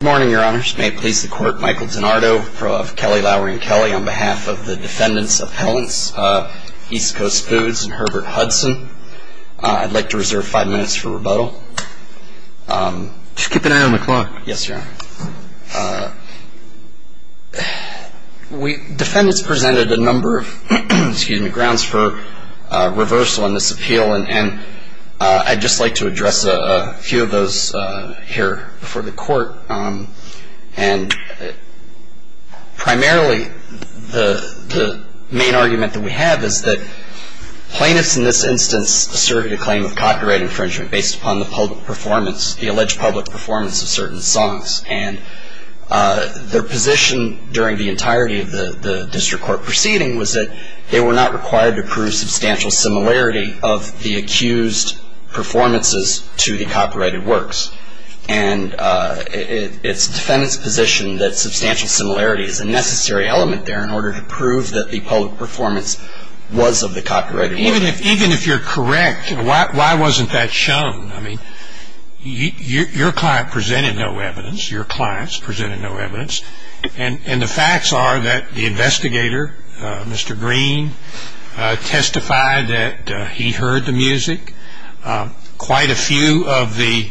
Good morning, Your Honors. May it please the Court, Michael DiNardo, Pro of Kelly, Lowery & Kelly, on behalf of the Defendants' Appellants, East Coast Foods and Herbert Hudson. I'd like to reserve five minutes for rebuttal. Just keep an eye on the clock. Yes, Your Honor. Defendants presented a number of grounds for reversal in this appeal, and I'd just like to address a few of those here before the Court. And primarily, the main argument that we have is that plaintiffs in this instance asserted a claim of copyright infringement based upon the alleged public performance of certain songs. And their position during the entirety of the district court proceeding was that they were not required to prove substantial similarity of the accused performances to the copyrighted works. And it's the defendant's position that substantial similarity is a necessary element there in order to prove that the public performance was of the copyrighted works. Even if you're correct, why wasn't that shown? I mean, your client presented no evidence. Your clients presented no evidence. And the facts are that the investigator, Mr. Green, testified that he heard the music. Quite a few of the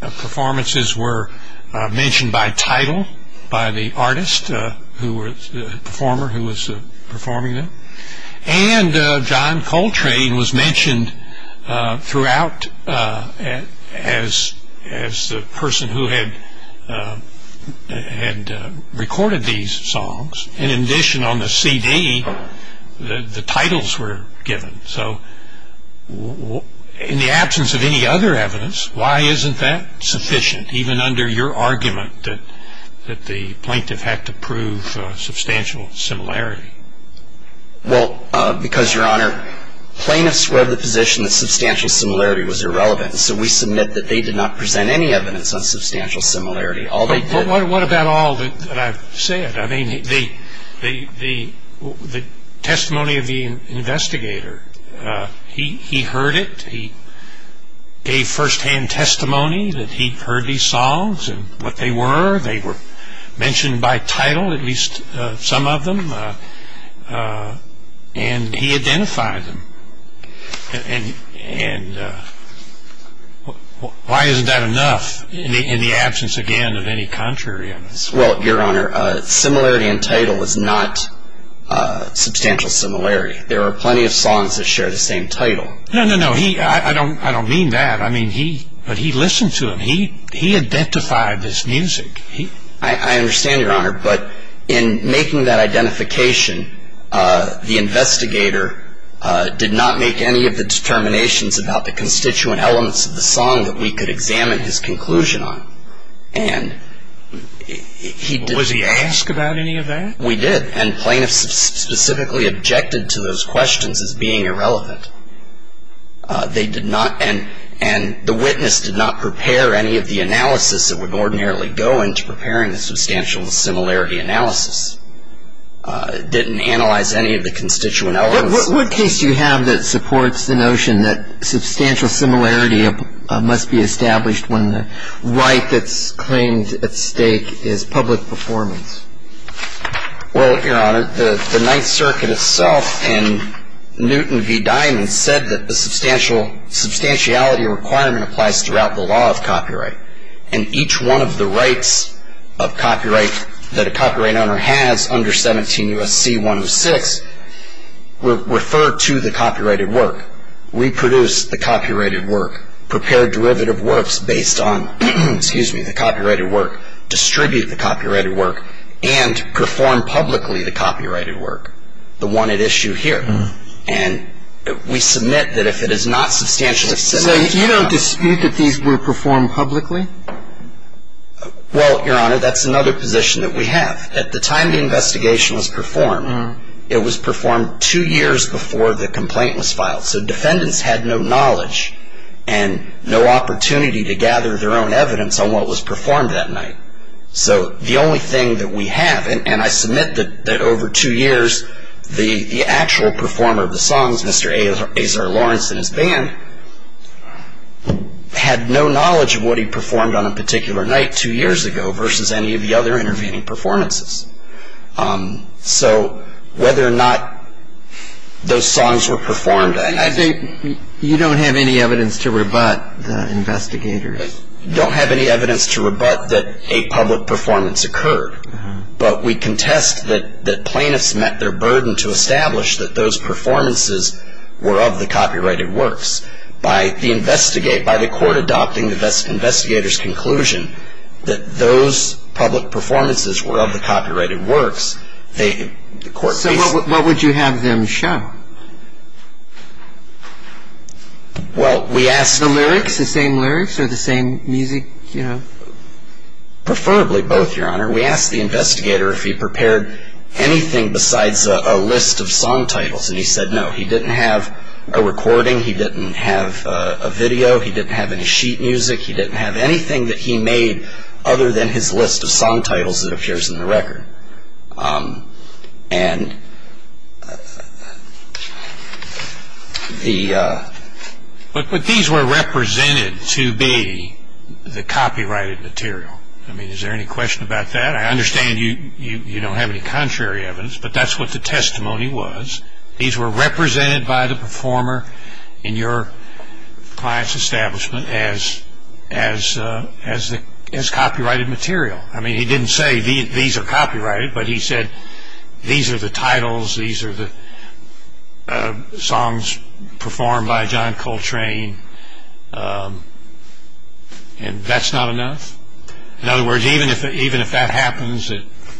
performances were mentioned by title by the artist, the performer who was performing them. And John Coltrane was mentioned throughout as the person who had recorded these songs. And in addition, on the CD, the titles were given. So in the absence of any other evidence, why isn't that sufficient, even under your argument that the plaintiff had to prove substantial similarity? Well, because, Your Honor, plaintiffs were of the position that substantial similarity was irrelevant. So we submit that they did not present any evidence on substantial similarity. What about all that I've said? I mean, the testimony of the investigator, he heard it. He gave firsthand testimony that he heard these songs and what they were. They were mentioned by title, at least some of them, and he identified them. And why isn't that enough in the absence, again, of any contrary evidence? Well, Your Honor, similarity in title is not substantial similarity. There are plenty of songs that share the same title. No, no, no. I don't mean that. But he listened to them. He identified this music. I understand, Your Honor, but in making that identification, the investigator did not make any of the determinations about the constituent elements of the song that we could examine his conclusion on. Was he asked about any of that? We did, and plaintiffs specifically objected to those questions as being irrelevant. They did not, and the witness did not prepare any of the analysis that would ordinarily go into preparing the substantial similarity analysis. Didn't analyze any of the constituent elements. What case do you have that supports the notion that substantial similarity must be established when the right that's claimed at stake is public performance? Well, Your Honor, the Ninth Circuit itself in Newton v. Diamond said that the substantiality requirement applies throughout the law of copyright, and each one of the rights of copyright that a copyright owner has under 17 U.S.C. 106 refer to the copyrighted work. We produce the copyrighted work, prepare derivative works based on the copyrighted work, distribute the copyrighted work, and perform publicly the copyrighted work, the one at issue here. And we submit that if it is not substantially similar... So you don't dispute that these were performed publicly? Well, Your Honor, that's another position that we have. At the time the investigation was performed, it was performed two years before the complaint was filed, so defendants had no knowledge and no opportunity to gather their own evidence on what was performed that night. So the only thing that we have, and I submit that over two years the actual performer of the songs, Mr. Azar Lawrence and his band, had no knowledge of what he performed on a particular night two years ago versus any of the other intervening performances. So whether or not those songs were performed... You don't have any evidence to rebut the investigators? We don't have any evidence to rebut that a public performance occurred, but we contest that plaintiffs met their burden to establish that those performances were of the copyrighted works. By the court adopting the investigator's conclusion that those public performances were of the copyrighted works, the court... So what would you have them show? Well, we asked... The lyrics, the same lyrics or the same music? Preferably both, Your Honor. We asked the investigator if he prepared anything besides a list of song titles, and he said no. He didn't have a recording, he didn't have a video, he didn't have any sheet music, he didn't have anything that he made other than his list of song titles that appears in the record. And the... But these were represented to be the copyrighted material. I mean, is there any question about that? I understand you don't have any contrary evidence, but that's what the testimony was. These were represented by the performer in your client's establishment as copyrighted material. I mean, he didn't say these are copyrighted, but he said these are the titles, these are the songs performed by John Coltrane, and that's not enough? In other words, even if that happens,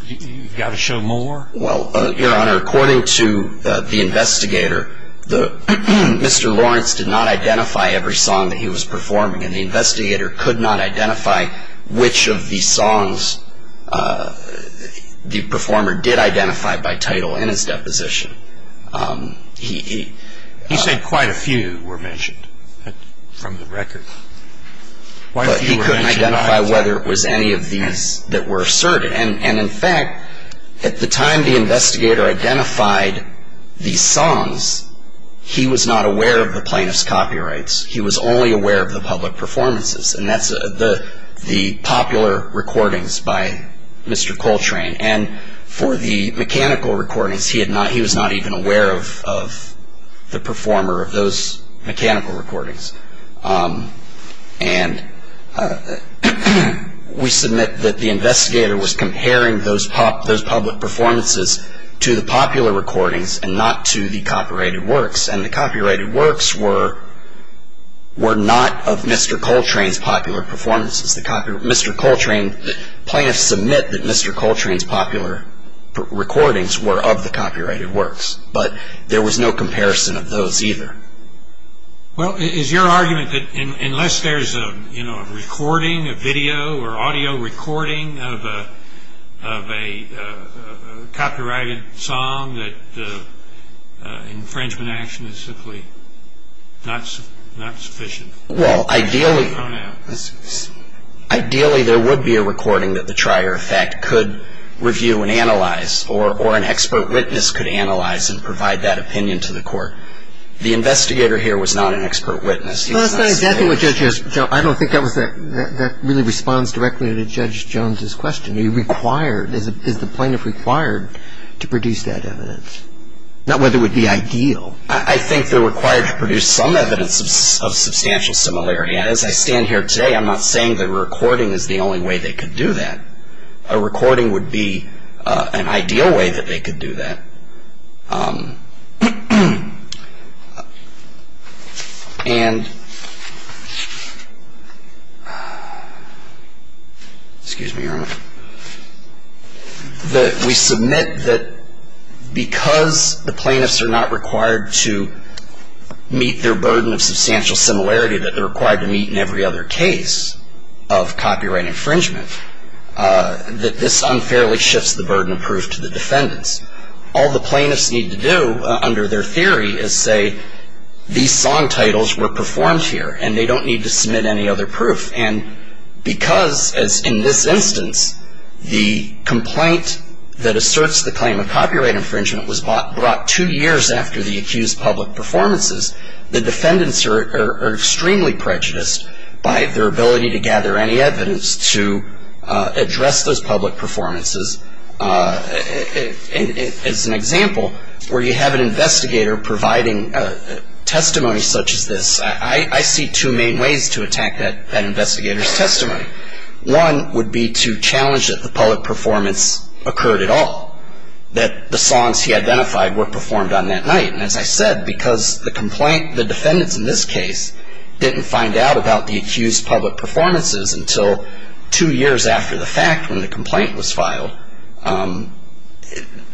you've got to show more? Well, Your Honor, according to the investigator, Mr. Lawrence did not identify every song that he was performing, and the investigator could not identify which of the songs the performer did identify by title in his deposition. He said quite a few were mentioned from the record. But he couldn't identify whether it was any of these that were asserted. And in fact, at the time the investigator identified these songs, he was not aware of the plaintiff's copyrights. He was only aware of the public performances, and that's the popular recordings by Mr. Coltrane. And for the mechanical recordings, he was not even aware of the performer of those mechanical recordings. And we submit that the investigator was comparing those public performances to the popular recordings and not to the copyrighted works, and the copyrighted works were not of Mr. Coltrane's popular performances. Mr. Coltrane, plaintiffs submit that Mr. Coltrane's popular recordings were of the copyrighted works, but there was no comparison of those either. Well, is your argument that unless there's a recording, a video, or audio recording of a copyrighted song, that infringement action is simply not sufficient? Well, ideally there would be a recording that the trier of fact could review and analyze, or an expert witness could analyze and provide that opinion to the court. The investigator here was not an expert witness. Well, that's not exactly what Judge Jones, I don't think that really responds directly to Judge Jones's question. He required, is the plaintiff required to produce that evidence? Not whether it would be ideal. I think they're required to produce some evidence of substantial similarity. And as I stand here today, I'm not saying that a recording is the only way they could do that. I'm saying that a recording would be an ideal way that they could do that. And, excuse me, Your Honor. We submit that because the plaintiffs are not required to meet their burden of substantial similarity that they're required to meet in every other case of copyright infringement, that this unfairly shifts the burden of proof to the defendants. All the plaintiffs need to do under their theory is say these song titles were performed here and they don't need to submit any other proof. And because, as in this instance, the complaint that asserts the claim of copyright infringement was brought two years after the accused public performances, the defendants are extremely prejudiced by their ability to gather any evidence to address those public performances. As an example, where you have an investigator providing testimony such as this, I see two main ways to attack that investigator's testimony. One would be to challenge that the public performance occurred at all, that the songs he identified were performed on that night. And as I said, because the defendant in this case didn't find out about the accused public performances until two years after the fact when the complaint was filed,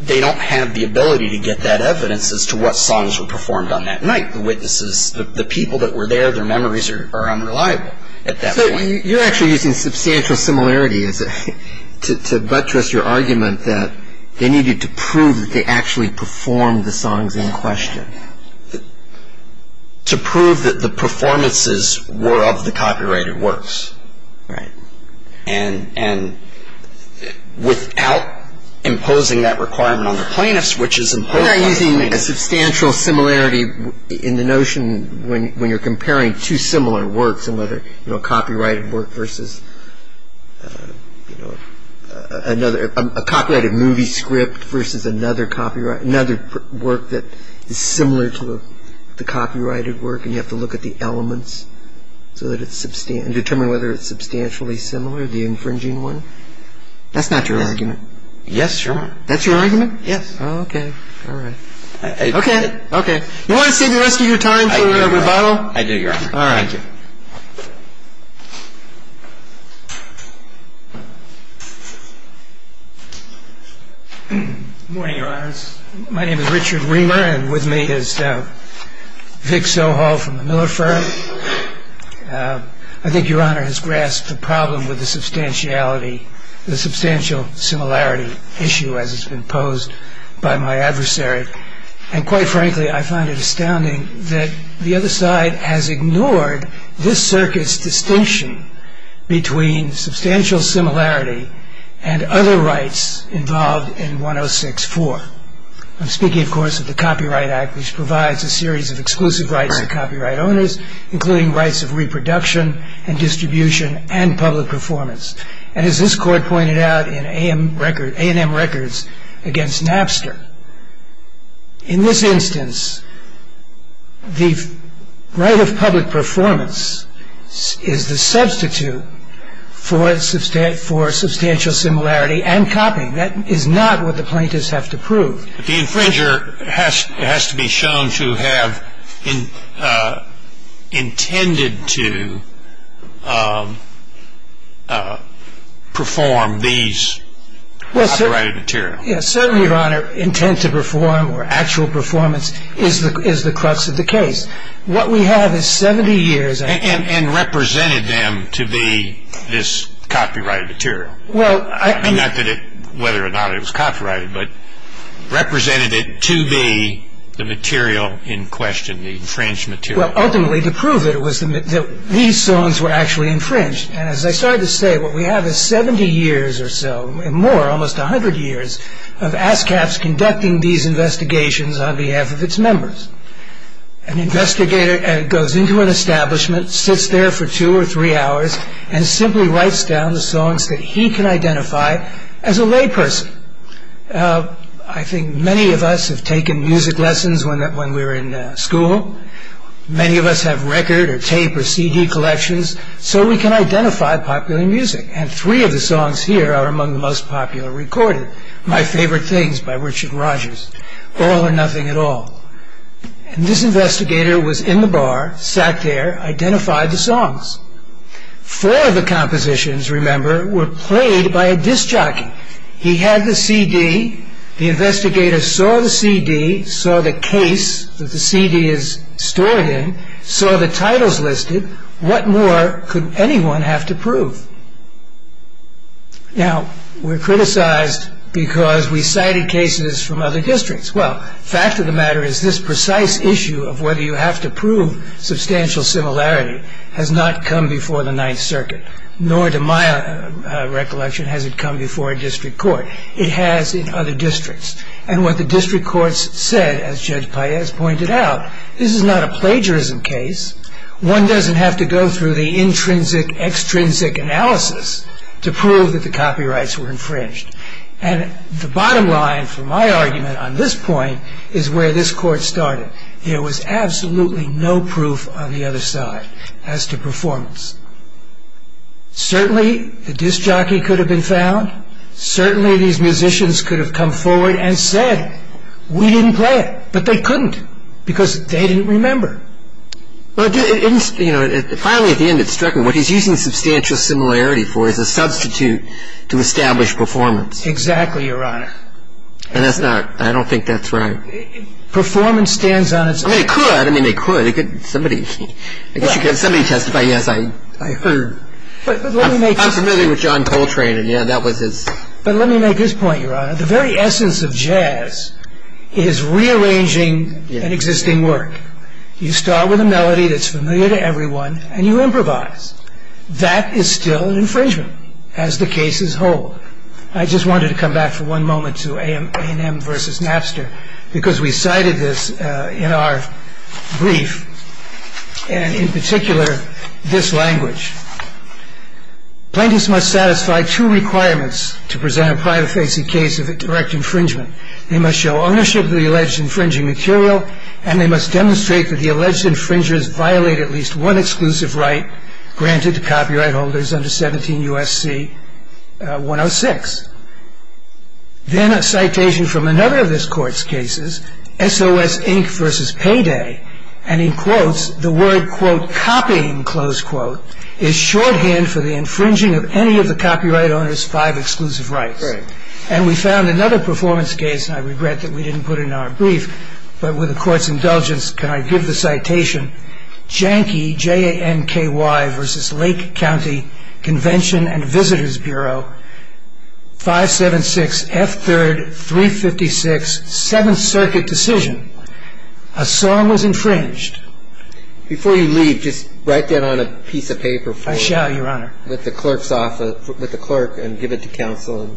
they don't have the ability to get that evidence as to what songs were performed on that night. The witnesses, the people that were there, their memories are unreliable at that point. So you're actually using substantial similarity to buttress your argument that they needed to prove that they actually performed the songs in question. To prove that the performances were of the copyrighted works. Right. And without imposing that requirement on the plaintiffs, which is imposed on the plaintiffs. You're not using a substantial similarity in the notion when you're comparing two similar works, a copyrighted work versus another, a copyrighted movie script versus another work that is similar to the copyrighted work and you have to look at the elements and determine whether it's substantially similar, the infringing one. That's not your argument. Yes, Your Honor. That's your argument? Yes. Okay. You want to save the rest of your time for rebuttal? I do, Your Honor. All right. Thank you. Good morning, Your Honors. My name is Richard Reamer and with me is Vic Sohal from the Miller firm. I think Your Honor has grasped the problem with the substantial similarity issue as it's been posed by my adversary. And quite frankly, I find it astounding that the other side has ignored this circuit's distinction between substantial similarity and other rights involved in 106-4. I'm speaking, of course, of the Copyright Act, which provides a series of exclusive rights to copyright owners, including rights of reproduction and distribution and public performance. And as this Court pointed out in A&M Records against Napster, in this instance, the right of public performance is the substitute for substantial similarity and copying. That is not what the plaintiffs have to prove. The infringer has to be shown to have intended to perform these copyrighted material. Yes. Certainly, Your Honor, intent to perform or actual performance is the crux of the case. What we have is 70 years. Not whether or not it was copyrighted, but represented it to be the material in question, the infringed material. Ultimately, to prove it, these songs were actually infringed. And as I started to say, what we have is 70 years or so, and more, almost 100 years of ASCAP conducting these investigations on behalf of its members. An investigator goes into an establishment, sits there for two or three hours, and simply writes down the songs that he can identify as a lay person. I think many of us have taken music lessons when we were in school. Many of us have record or tape or CD collections, so we can identify popular music. And three of the songs here are among the most popular recorded. My Favorite Things by Richard Rodgers. All or Nothing at All. And this investigator was in the bar, sat there, identified the songs. Four of the compositions, remember, were played by a disc jockey. He had the CD. The investigator saw the CD, saw the case that the CD is stored in, saw the titles listed. What more could anyone have to prove? Now, we're criticized because we cited cases from other districts. Well, fact of the matter is this precise issue of whether you have to prove substantial similarity has not come before the Ninth Circuit, nor to my recollection has it come before a district court. It has in other districts. And what the district courts said, as Judge Paez pointed out, this is not a plagiarism case. One doesn't have to go through the intrinsic-extrinsic analysis to prove that the copyrights were infringed. And the bottom line for my argument on this point is where this court started. There was absolutely no proof on the other side as to performance. Certainly, the disc jockey could have been found. Certainly, these musicians could have come forward and said, we didn't play it, but they couldn't because they didn't remember. Well, finally, at the end, it struck me, what he's using substantial similarity for is a substitute to establish performance. Exactly, Your Honor. And that's not, I don't think that's right. Performance stands on its own. I mean, it could. I mean, it could. Somebody, I guess you could have somebody testify, yes, I heard. But let me make... I'm familiar with John Coltrane, and yeah, that was his... But let me make this point, Your Honor. The very essence of jazz is rearranging an existing work. You start with a melody that's familiar to everyone, and you improvise. That is still an infringement, as the cases hold. I just wanted to come back for one moment to A&M versus Napster because we cited this in our brief, and in particular, this language. Plaintiffs must satisfy two requirements to present a private-facing case of direct infringement. They must show ownership of the alleged infringing material, and they must demonstrate that the alleged infringers violate at least one exclusive right granted to copyright holders under 17 U.S.C. 106. Then a citation from another of this Court's cases, S.O.S. Inc. versus Payday, and he quotes the word, quote, copying, close quote, is shorthand for the infringing of any of the copyright owner's five exclusive rights. And we found another performance case, and I regret that we didn't put it in our brief, but with the Court's indulgence, can I give the citation, Janki, J-A-N-K-Y, versus Lake County Convention and Visitors Bureau, 576 F. 3rd, 356, Seventh Circuit decision, a song was infringed. Before you leave, just write that on a piece of paper. I shall, Your Honor. With the clerk and give it to counsel.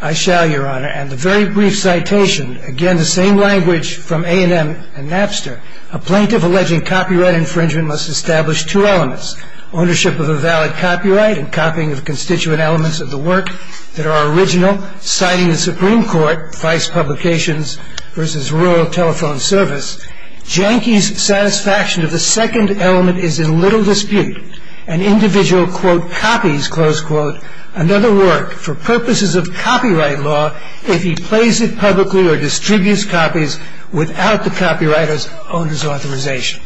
I shall, Your Honor. And the very brief citation, again the same language from A&M and Napster, a plaintiff alleging copyright infringement must establish two elements, ownership of a valid copyright and copying of constituent elements of the work that are original, citing the Supreme Court, Vice Publications versus Royal Telephone Service. Janki's satisfaction of the second element is in little dispute. An individual, quote, copies, close quote, another work for purposes of copyright law if he plays it publicly or distributes copies without the copywriter's owner's authorization.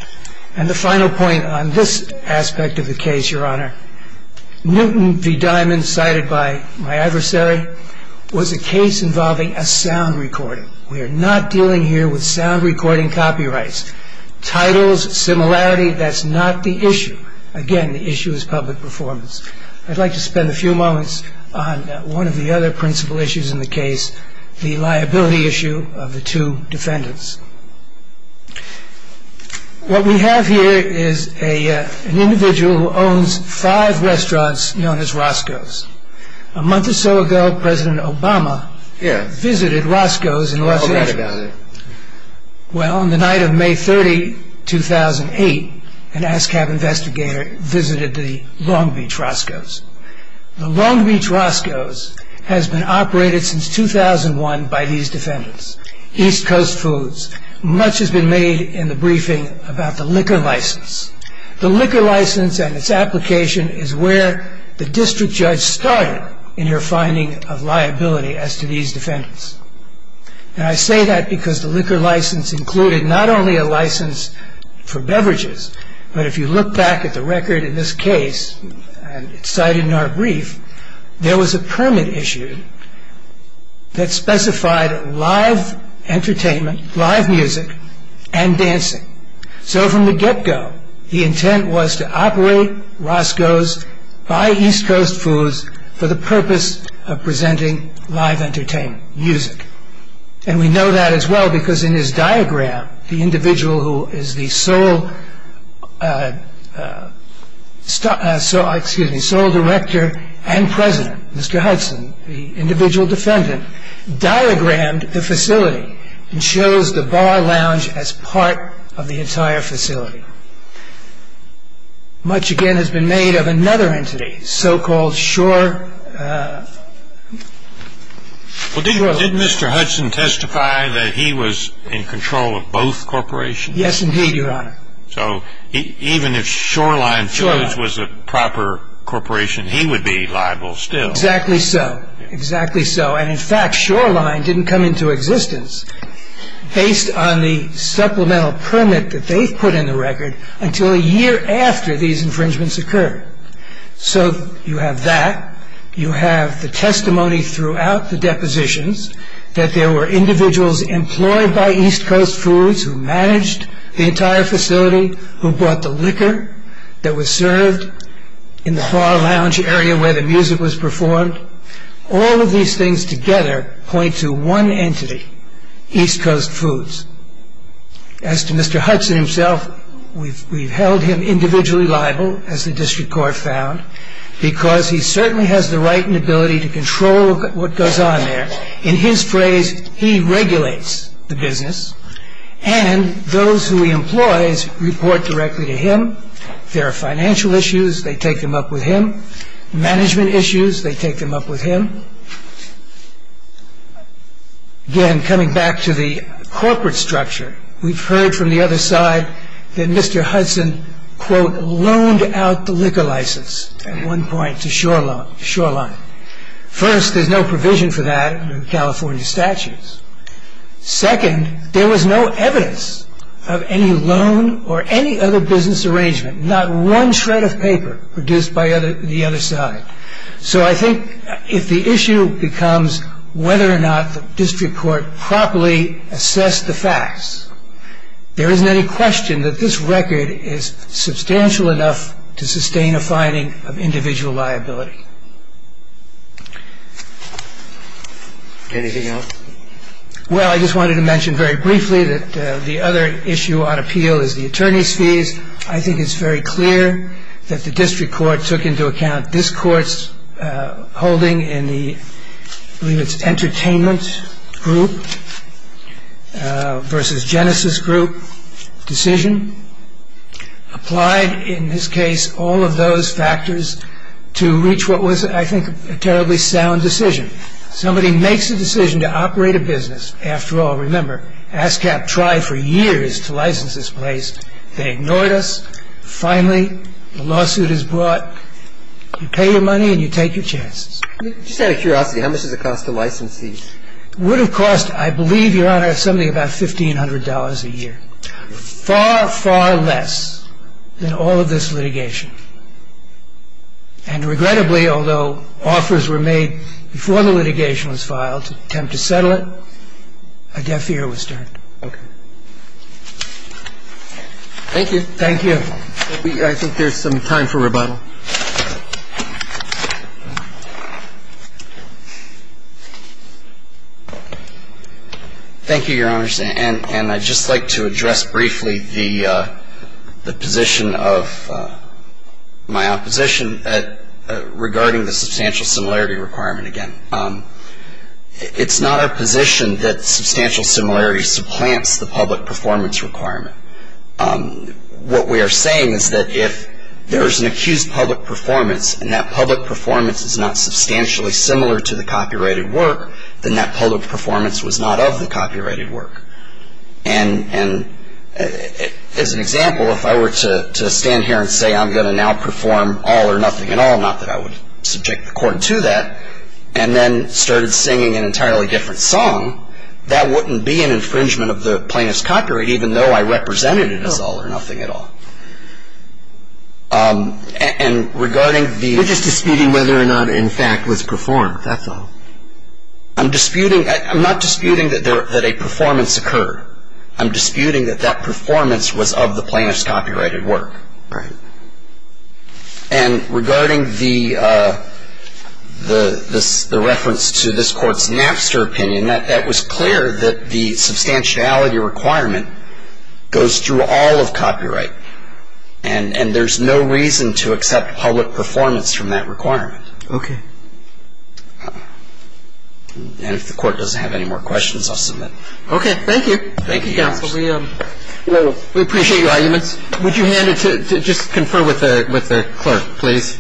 And the final point on this aspect of the case, Your Honor, Newton v. Diamond cited by my adversary was a case involving a sound recording. We are not dealing here with sound recording copyrights. Titles, similarity, that's not the issue. Again, the issue is public performance. I'd like to spend a few moments on one of the other principal issues in the case, the liability issue of the two defendants. What we have here is an individual who owns five restaurants known as Roscoe's. A month or so ago, President Obama visited Roscoe's in Los Angeles. Well, on the night of May 30, 2008, an ASCAP investigator visited the Long Beach Roscoe's. The Long Beach Roscoe's has been operated since 2001 by these defendants, East Coast Foods. Much has been made in the briefing about the liquor license. The liquor license and its application is where the district judge started in your finding of liability as to these defendants. And I say that because the liquor license included not only a license for beverages, but if you look back at the record in this case, and it's cited in our brief, there was a permit issued that specified live entertainment, live music, and dancing. So from the get-go, the intent was to operate Roscoe's by East Coast Foods for the purpose of presenting live entertainment, music. And we know that as well because in his diagram, the individual who is the sole director and president, Mr. Hudson, the individual defendant, diagrammed the facility and chose the bar lounge as part of the entire facility. Much, again, has been made of another entity, so-called Shoreline. Well, did Mr. Hudson testify that he was in control of both corporations? Yes, indeed, Your Honor. So even if Shoreline Foods was a proper corporation, he would be liable still? Exactly so. Exactly so. And in fact, Shoreline didn't come into existence. based on the supplemental permit that they've put in the record until a year after these infringements occurred. So you have that. You have the testimony throughout the depositions that there were individuals employed by East Coast Foods who managed the entire facility, who bought the liquor that was served in the bar lounge area where the music was performed. All of these things together point to one entity, East Coast Foods. As to Mr. Hudson himself, we've held him individually liable, as the district court found, because he certainly has the right and ability to control what goes on there. In his phrase, he regulates the business. And those who he employs report directly to him. If there are financial issues, they take them up with him. Management issues, they take them up with him. Again, coming back to the corporate structure, we've heard from the other side that Mr. Hudson, quote, loaned out the liquor license at one point to Shoreline. First, there's no provision for that under California statutes. Second, there was no evidence of any loan or any other business arrangement. Not one shred of paper produced by the other side. So I think if the issue becomes whether or not the district court properly assessed the facts, there isn't any question that this record is substantial enough to sustain a finding of individual liability. Anything else? Well, I just wanted to mention very briefly that the other issue on appeal is the attorney's fees. I think it's very clear that the district court took into account this court's holding in the, I believe it's Entertainment Group versus Genesis Group decision. Applied, in this case, all of those factors to reach what was, I think, a terribly sound decision. Somebody makes a decision to operate a business. After all, remember, ASCAP tried for years to license this place. They ignored us. Finally, the lawsuit is brought. You pay your money and you take your chances. Just out of curiosity, how much does it cost to license these? It would have cost, I believe, Your Honor, something about $1,500 a year. Far, far less than all of this litigation. And regrettably, although offers were made before the litigation was filed to attempt to settle it, a deaf ear was turned. Okay. Thank you. Thank you. I think there's some time for rebuttal. Thank you, Your Honors. And I'd just like to address briefly the position of my opposition regarding the substantial similarity requirement again. It's not our position that substantial similarity supplants the public performance requirement. What we are saying is that if there is an accused public performance and that public performance is not substantially similar to the copyrighted work, then that public performance was not of the copyrighted work. And as an example, if I were to stand here and say I'm going to now perform all or nothing at all, not that I would subject the court to that, and then started singing an entirely different song, that wouldn't be an infringement of the plaintiff's copyright even though I represented it as all or nothing at all. And regarding the… You're just disputing whether or not, in fact, it was performed. That's all. I'm disputing – I'm not disputing that a performance occurred. I'm disputing that that performance was of the plaintiff's copyrighted work. Right. And regarding the reference to this Court's Napster opinion, that was clear that the substantiality requirement goes through all of copyright. And there's no reason to accept public performance from that requirement. Okay. And if the Court doesn't have any more questions, I'll submit. Okay. Thank you. Thank you, counsel. We appreciate your arguments. Would you hand it to – just confer with the clerk, please.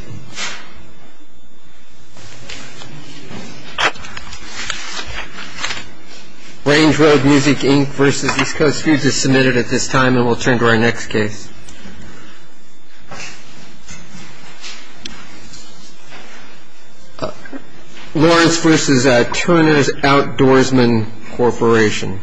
Range Road Music, Inc. v. East Coast Foods is submitted at this time, and we'll turn to our next case. Lawrence v. Turner's Outdoorsmen Corporation.